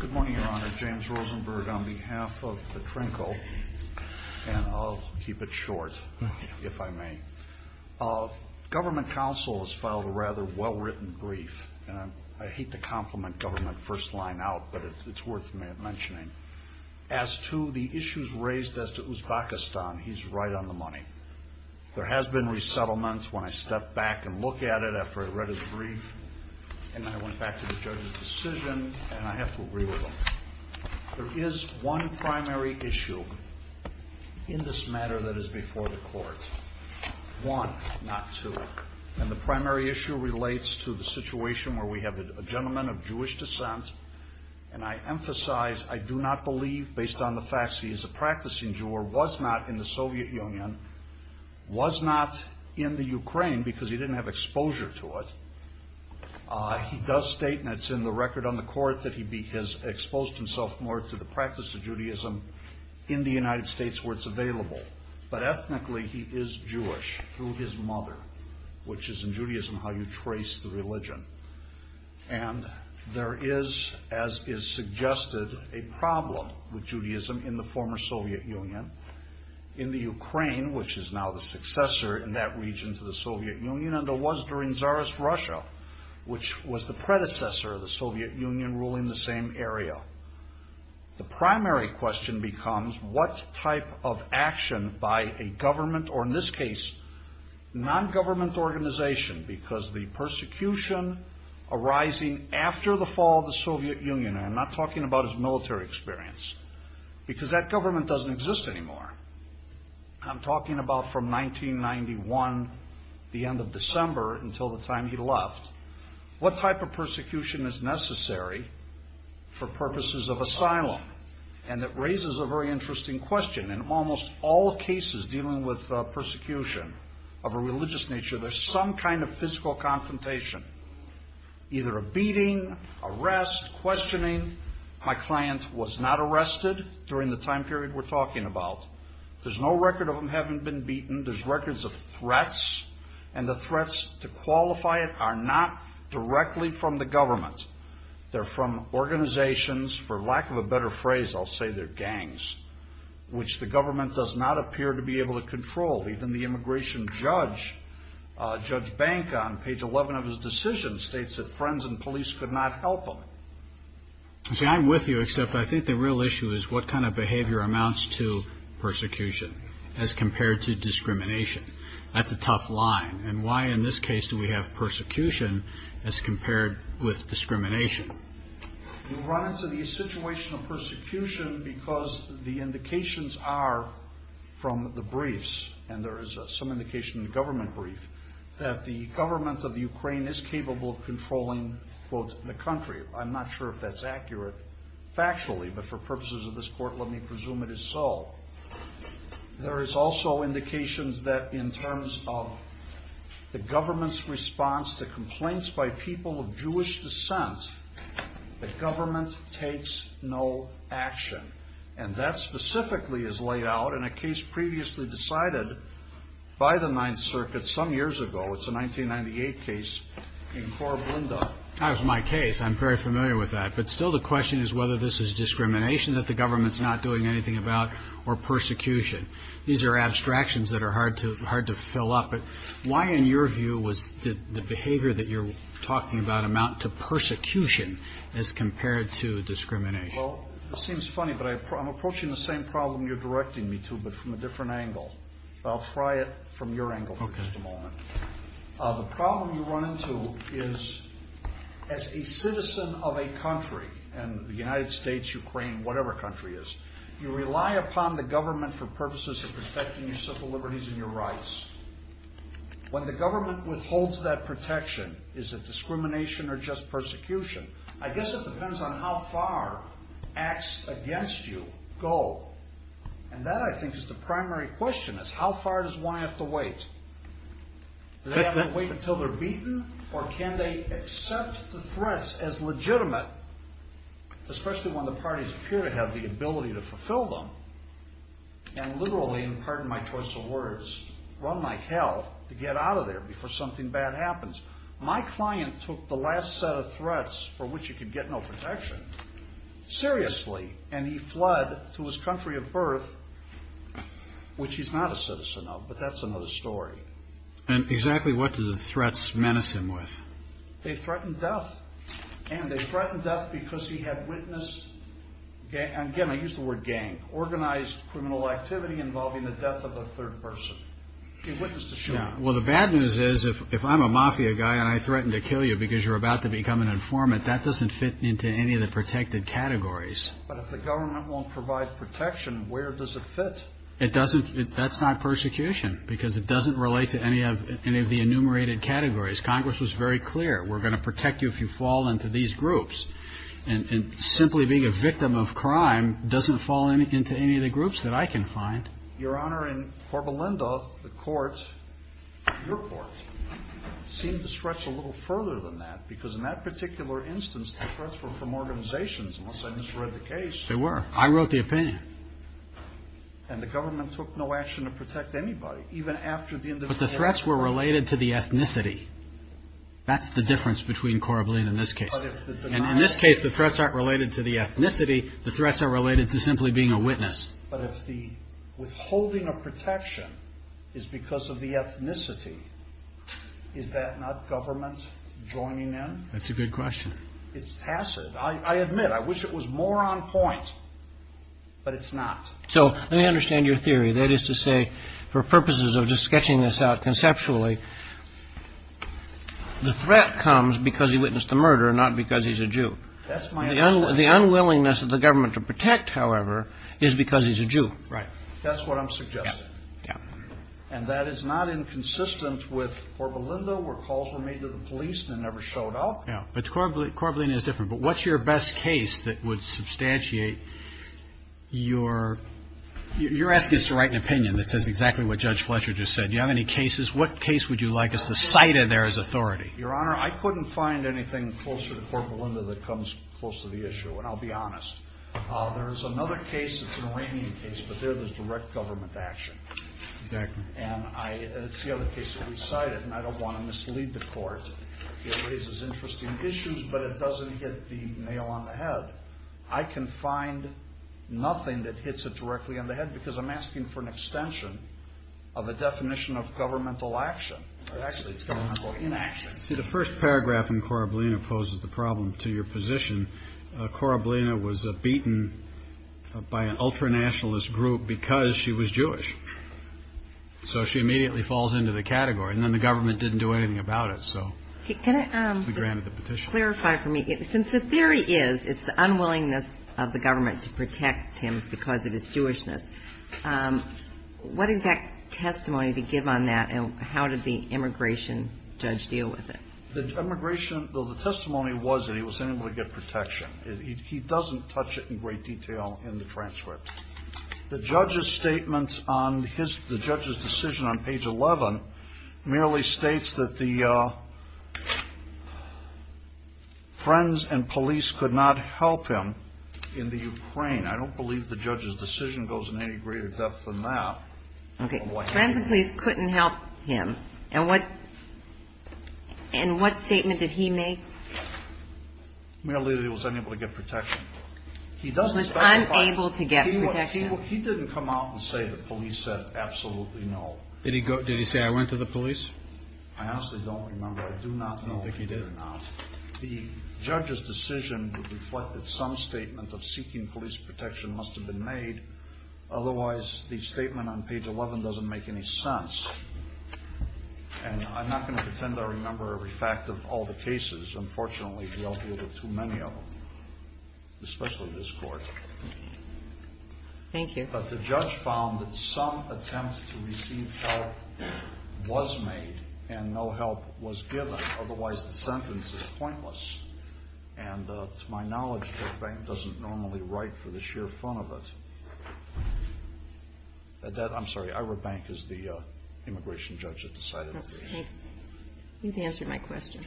Good morning, Your Honor. James Rosenberg on behalf of the TRNKL, and I'll keep it short, if I may. Government counsel has filed a rather well-written brief, and I hate to compliment government first line out, but it's worth mentioning. As to the issues raised as to Uzbekistan, he's right on the money. There has been resettlement. When I stepped back and looked at it after I read his brief, and then I went back to the judge's decision, and I have to agree with him. There is one primary issue in this matter that is before the court. One, not two. And the primary issue relates to the situation where we have a gentleman of Jewish descent, and I emphasize, I do not believe, based on the facts, he is a practicing Jew, or was not in the Soviet Union, was not in the Ukraine because he didn't have exposure to it. He does state, and it's in the record on the court, that he has exposed himself more to the practice of Judaism in the United States where it's available. But ethnically, he is Jewish through his mother, which is in Judaism how you trace the religion. And there is, as is suggested, a problem with Judaism in the former Soviet Union. In the Ukraine, which is now the successor in that region to the Soviet Union, and it was during Tsarist Russia, which was the predecessor of the Soviet Union ruling the same area. The primary question becomes what type of action by a government, or in this case, non-government organization, because the persecution arising after the fall of the Soviet Union, and I'm not talking about his military experience, because that government doesn't exist anymore. I'm talking about from 1991, the end of December, until the time he left. What type of persecution is necessary for purposes of asylum? And it raises a very interesting question. In almost all cases dealing with persecution of a religious nature, there's some kind of physical confrontation. Either a beating, arrest, questioning. My client was not arrested during the time period we're talking about. There's no record of him having been beaten. There's records of threats, and the threats to qualify it are not directly from the government. They're from organizations, for lack of a better phrase, I'll say they're gangs, which the government does not appear to be able to control. Even the immigration judge, Judge Bank, on page 11 of his decision states that friends and police could not help him. See, I'm with you, except I think the real issue is what kind of behavior amounts to persecution as compared to discrimination. That's a tough line, and why in this case do we have persecution as compared with discrimination? We run into the situation of persecution because the indications are from the briefs, and there is some indication in the government brief, that the government of Ukraine is capable of controlling, quote, the country. I'm not sure if that's accurate factually, but for purposes of this court let me presume it is so. There is also indications that in terms of the government's response to complaints by people of Jewish descent, the government takes no action, and that specifically is laid out in a case previously decided by the Ninth Circuit some years ago. It's a 1998 case in Korablinda. That was my case. I'm very familiar with that, but still the question is whether this is discrimination that the government's not doing anything about, or persecution. These are two different things that come up, but why in your view was the behavior that you're talking about amount to persecution as compared to discrimination? Well, it seems funny, but I'm approaching the same problem you're directing me to, but from a different angle. I'll try it from your angle for just a moment. The problem you run into is as a citizen of a country, and the United States, Ukraine, whatever country it is, you rely upon the government for purposes of protecting your civil liberties and your rights. When the government withholds that protection, is it discrimination or just persecution? I guess it depends on how far acts against you go, and that I think is the primary question is how far does one have to wait? Do they have to wait until they're beaten, or can they accept the threats as legitimate, especially when the parties appear to have the ability to fulfill them, and literally, pardon my choice of words, run like hell to get out of there before something bad happens? My client took the last set of threats for which he could get no protection seriously, and he fled to his country of birth, which he's not a citizen of, but that's another story. And exactly what do the threats menace him with? They threaten death, and they threaten death because he had witnessed, and again, I use the word gang, organized criminal activity involving the death of a third person. He witnessed a shooting. Well the bad news is if I'm a mafia guy and I threaten to kill you because you're about to become an informant, that doesn't fit into any of the protected categories. But if the government won't provide protection, where does it fit? It doesn't, that's not persecution, because it doesn't relate to any of the enumerated categories. Congress was very clear, we're going to protect you if you fall into these groups, and simply being a victim of crime doesn't fall into any of the groups that I can find. Your Honor, in Corbelinda, the court, your court, seemed to stretch a little further than that, because in that particular instance, the threats were from organizations, unless They were. I wrote the opinion. And the government took no action to protect anybody, even after the individual But the threats were related to the ethnicity. That's the difference between Corbelinda and this case. And in this case, the threats aren't related to the ethnicity, the threats are related to simply being a witness. But if the withholding of protection is because of the ethnicity, is that not government joining in? That's a good question. It's tacit. I admit, I wish it was more on point, but it's not. So let me understand your theory. That is to say, for purposes of just sketching this out conceptually, the threat comes because he witnessed the murder, not because he's a Jew. That's my understanding. The unwillingness of the government to protect, however, is because he's a Jew. Right. That's what I'm suggesting. Yeah. And that is not inconsistent with Corbelinda, where calls were made to the police and never showed up. Yeah. But Corbelinda is different. But what's your best case that would substantiate your, you're asking us to write an opinion that says exactly what Judge Fletcher just said. Do you have any cases? What case would you like us to cite in there as authority? Your Honor, I couldn't find anything closer to Corbelinda that comes close to the issue, and I'll be honest. There is another case, it's an Iranian case, but there there's direct government action. Exactly. It raises interesting issues, but it doesn't hit the nail on the head. I can find nothing that hits it directly on the head because I'm asking for an extension of a definition of governmental action. See, the first paragraph in Corbelinda poses the problem to your position. Corbelinda was beaten by an ultranationalist group because she was Jewish. So she immediately falls into the category and then the government didn't do anything about it. So can you clarify for me, since the theory is it's the unwillingness of the government to protect him because of his Jewishness, what is that testimony to give on that? And how did the immigration judge deal with it? The immigration, the testimony was that he was unable to get protection. He doesn't touch it in great detail in the transcript. The judge's statements on his, the judge's decision on page 11 merely states that the friends and police could not help him in the Ukraine. I don't believe the judge's decision goes in any greater depth than that. Okay. Friends and police couldn't help him. And what, and what statement did he make? Merely that he was unable to get protection. He doesn't, he didn't come out and say the police said absolutely no. Did he go, did he say, I went to the police? I honestly don't remember. I do not know if he did or not. The judge's decision would reflect that some statement of seeking police protection must have been made. Otherwise the statement on page 11 doesn't make any sense. And I'm not going to pretend I remember every fact of all the cases. Unfortunately, we all deal with too many of them. Especially this court. Thank you. But the judge found that some attempts to receive help was made and no help was given. Otherwise the sentence is pointless. And to my knowledge, the bank doesn't normally write for the sheer fun of it. That I'm sorry. Ira Bank is the immigration judge that decided. You've answered my question.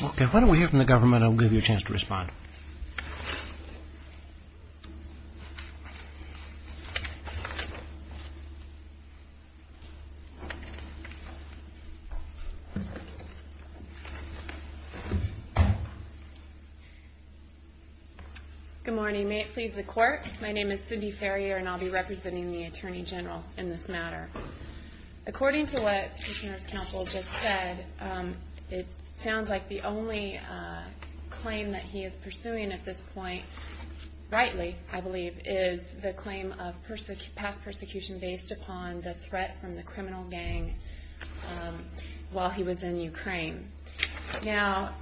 Why don't we hear from the government? I'll give you a chance to respond. Okay. Good morning. May it please the court. My name is Cindy Ferrier and I'll be representing the attorney general in this matter. According to what nurse counsel just said, um, it sounds like the only, uh, claim that he is pursuing at this point, rightly, I believe is the claim of person past persecution based upon the threat from the criminal gang, um, while he was in Ukraine. Now,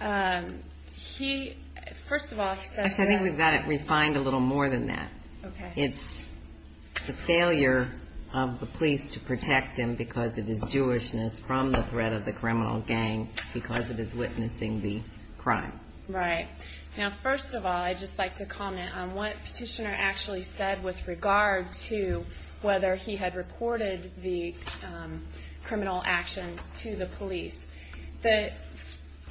um, he, first of all, actually, I think we've got it refined a little more than that. Okay. It's the failure of the police to protect him because it is Jewishness from the threat of the criminal gang because it is witnessing the crime. Right. Now, first of all, I'd just like to comment on what petitioner actually said with regard to whether he had reported the, um, criminal action to the police. The,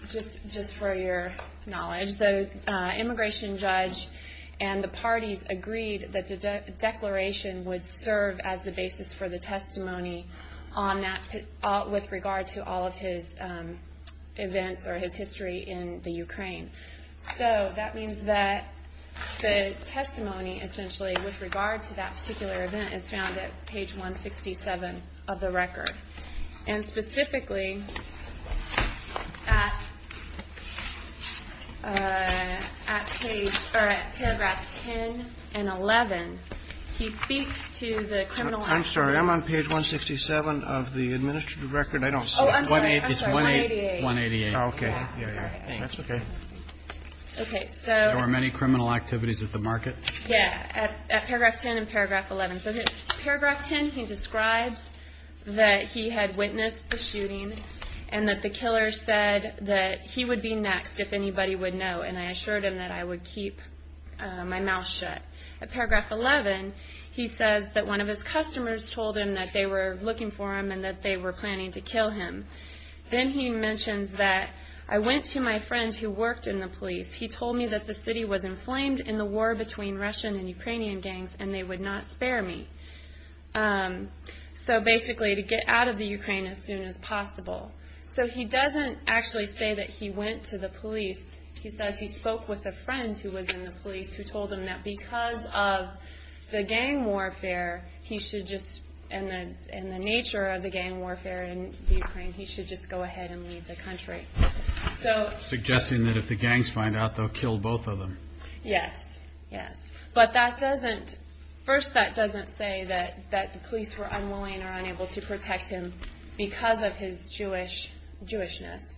just, just for your knowledge, the, uh, immigration judge and the parties agreed that the declaration would serve as the basis for the testimony on that, uh, with regard to all of his, um, events or his history in the Ukraine. So that means that the testimony essentially with regard to that particular event is found at page 167 of the record and specifically at, uh, at page or at paragraph 10 and 11, he speaks to the criminal. I'm sorry. I'm on page 167 of the administrative record. I don't want it. It's one eight, one 88. Okay. That's okay. Okay. So there were many criminal activities at the market. Yeah. At paragraph 10 and paragraph 11. So paragraph 10, he describes that he had witnessed the shooting and that the killer said that he would be next if anybody would know. And I assured him that I would keep my mouth shut at paragraph 11. He says that one of his customers told him that they were looking for him and that they were planning to kill him. Then he mentions that I went to my friend who worked in the police. He told me that the city was inflamed in the war between Russian and Ukrainian gangs and they would not spare me. Um, so basically to get out of the Ukraine as soon as possible. So he doesn't actually say that he went to the police. He says he spoke with a friend who was in the police, who told him that because of the gang warfare, he should just, and the, and the nature of the gang warfare in Ukraine, he should just go ahead and leave the country. So. Suggesting that if the gangs find out they'll kill both of them. Yes. Yes. But that doesn't, first that doesn't say that, that the police were unwilling or unable to protect him because of his Jewish, Jewishness.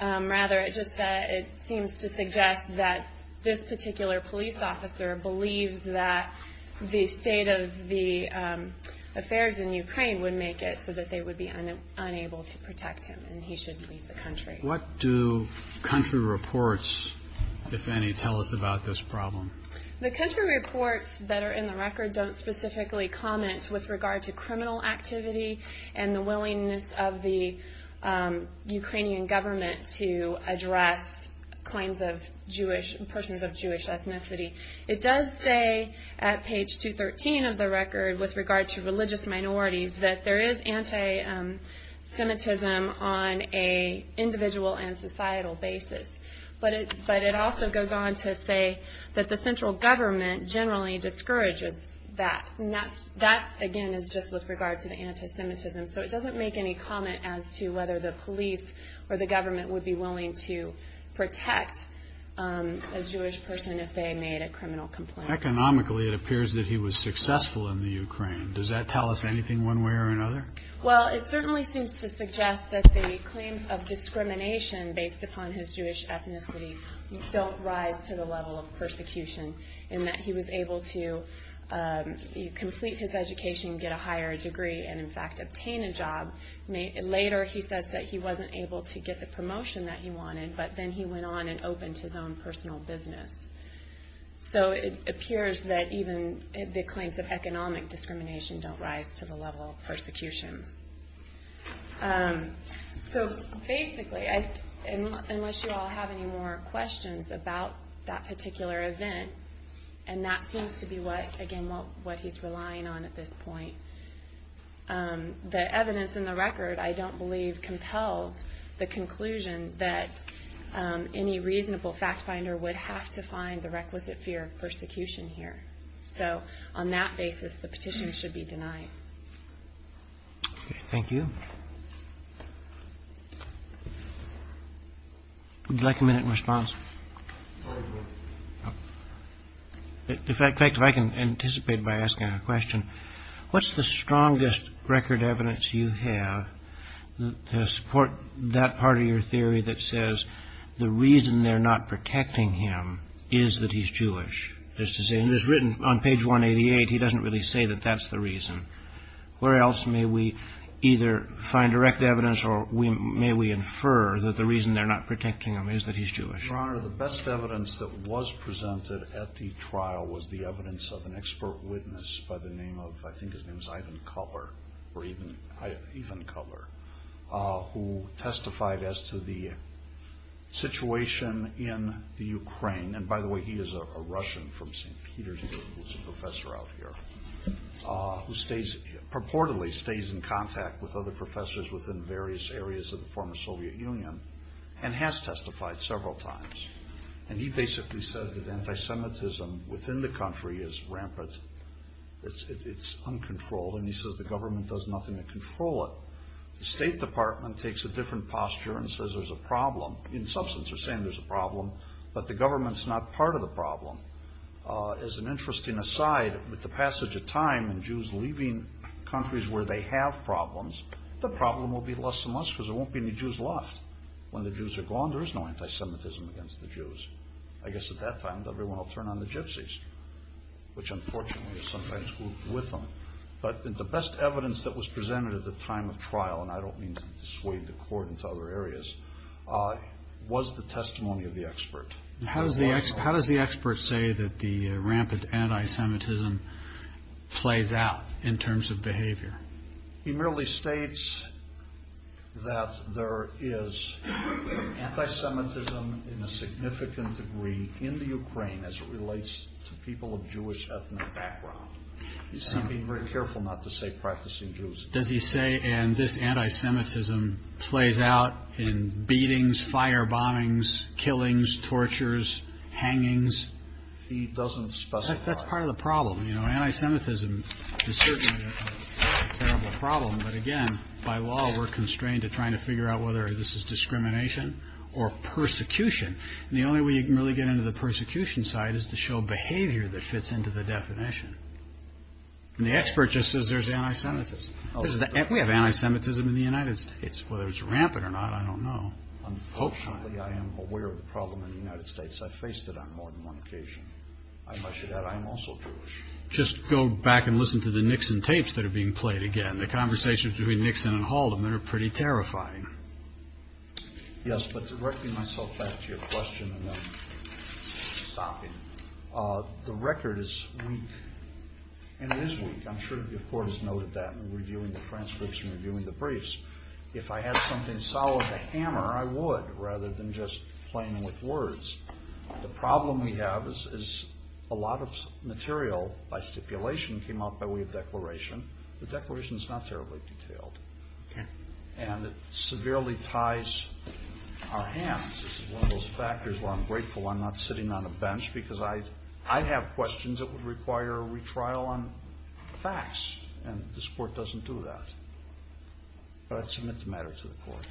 Um, rather it just, uh, it seems to suggest that this particular police officer believes that the state of the, um, affairs in Ukraine would make it so that they would be unable to protect him and he should leave the country. What do country reports, if any, tell us about this problem? The country reports that are in the record don't specifically comment with regard to criminal activity and the willingness of the, um, Ukrainian government to address claims of Jewish persons of Jewish ethnicity. It does say at page 213 of the record with regard to religious minorities, that there is anti, um, Semitism on a individual and societal basis. But it, but it also goes on to say that the central government generally discourages that. And that's, that again is just with regard to the anti-Semitism. So it doesn't make any comment as to whether the police or the government would be willing to protect, um, a Jewish person if they made a criminal complaint. Economically, it appears that he was successful in the Ukraine. Does that tell us anything one way or another? Well, it certainly seems to suggest that the claims of discrimination based upon his Jewish ethnicity don't rise to the level of persecution in that he was able to, um, complete his education, get a higher degree and in fact, obtain a job. Later, he says that he wasn't able to get the promotion that he wanted, but then he went on and opened his own personal business. So it appears that even the claims of economic discrimination don't rise to the level of persecution. Um, so basically, unless you all have any more questions about that particular event, and that seems to be what, again, what he's relying on at this point. Um, the evidence in the record, I don't believe compels the conclusion that, um, any reasonable fact finder would have to find the requisite fear of persecution here. So on that basis, the petition should be denied. Thank you. Would you like a minute in response? If I can anticipate by asking a question, what's the strongest record evidence you have to support that part of your theory that says the reason they're not protecting him is that he's Jewish, just to say, and it's written on page 188, he doesn't really say that that's the reason. Where else may we either find direct evidence or we may, we infer that the reason they're not protecting him is that he's Jewish. Your Honor, the best evidence that was presented at the trial was the evidence of an expert witness by the name of, I think his name is Ivan Kuller, or even Ivan Kuller, uh, who testified as to the situation in the Ukraine. And by the way, he is a Russian from St. Peter's, who's a professor out here, uh, who stays purportedly stays in contact with other professors within various areas of the former Soviet Union and has testified several times. And he basically said that anti-Semitism within the country is rampant. It's, it's uncontrolled. And he says the government does nothing to control it. The state department takes a different posture and says there's a problem in substance or saying there's a problem, but the government's not part of the problem, uh, as an interesting aside with the passage of time and Jews leaving countries where they have problems, the problem will be less and less because there won't be any Jews left when the Jews are gone. There is no anti-Semitism against the Jews. I guess at that time, everyone will turn on the gypsies, which unfortunately is sometimes with them. But the best evidence that was presented at the time of trial, and I don't mean to dissuade the court into other areas, uh, was the testimony of the expert. How does the, how does the expert say that the rampant anti-Semitism plays out in terms of behavior? He merely states that there is anti-Semitism in a significant degree in the Ukraine as it relates to people of Jewish ethnic background. He's being very careful not to say practicing Jews. Does he say, and this anti-Semitism plays out in beatings, fire bombings, killings, tortures, hangings. That's part of the problem. You know, anti-Semitism is certainly a terrible problem, but again, by law, we're constrained to trying to figure out whether this is discrimination or persecution, and the only way you can really get into the persecution side is to show behavior that fits into the definition, and the expert just says there's anti-Semitism. We have anti-Semitism in the United States. Whether it's rampant or not, I don't know. Unfortunately, I am aware of the problem in the United States. I've faced it on more than one occasion. I must say that I am also Jewish. Just go back and listen to the Nixon tapes that are being played again. The conversations between Nixon and Haldeman are pretty terrifying. Yes, but directing myself back to your question, and then stopping, the record is weak, and it is weak. I'm sure the court has noted that in reviewing the transcripts and reviewing the briefs. If I had something solid to hammer, I would, rather than just playing with words, the problem we have is a lot of material by stipulation came out by way of declaration. The declaration is not terribly detailed, and it severely ties our hands. This is one of those factors where I'm grateful I'm not sitting on a bench because I have questions that would require a retrial on facts, and this court doesn't do that, but I'd submit the matter to the court.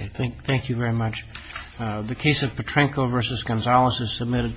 Okay, thank you very much. The case of Petrenko v. Gonzales is submitted.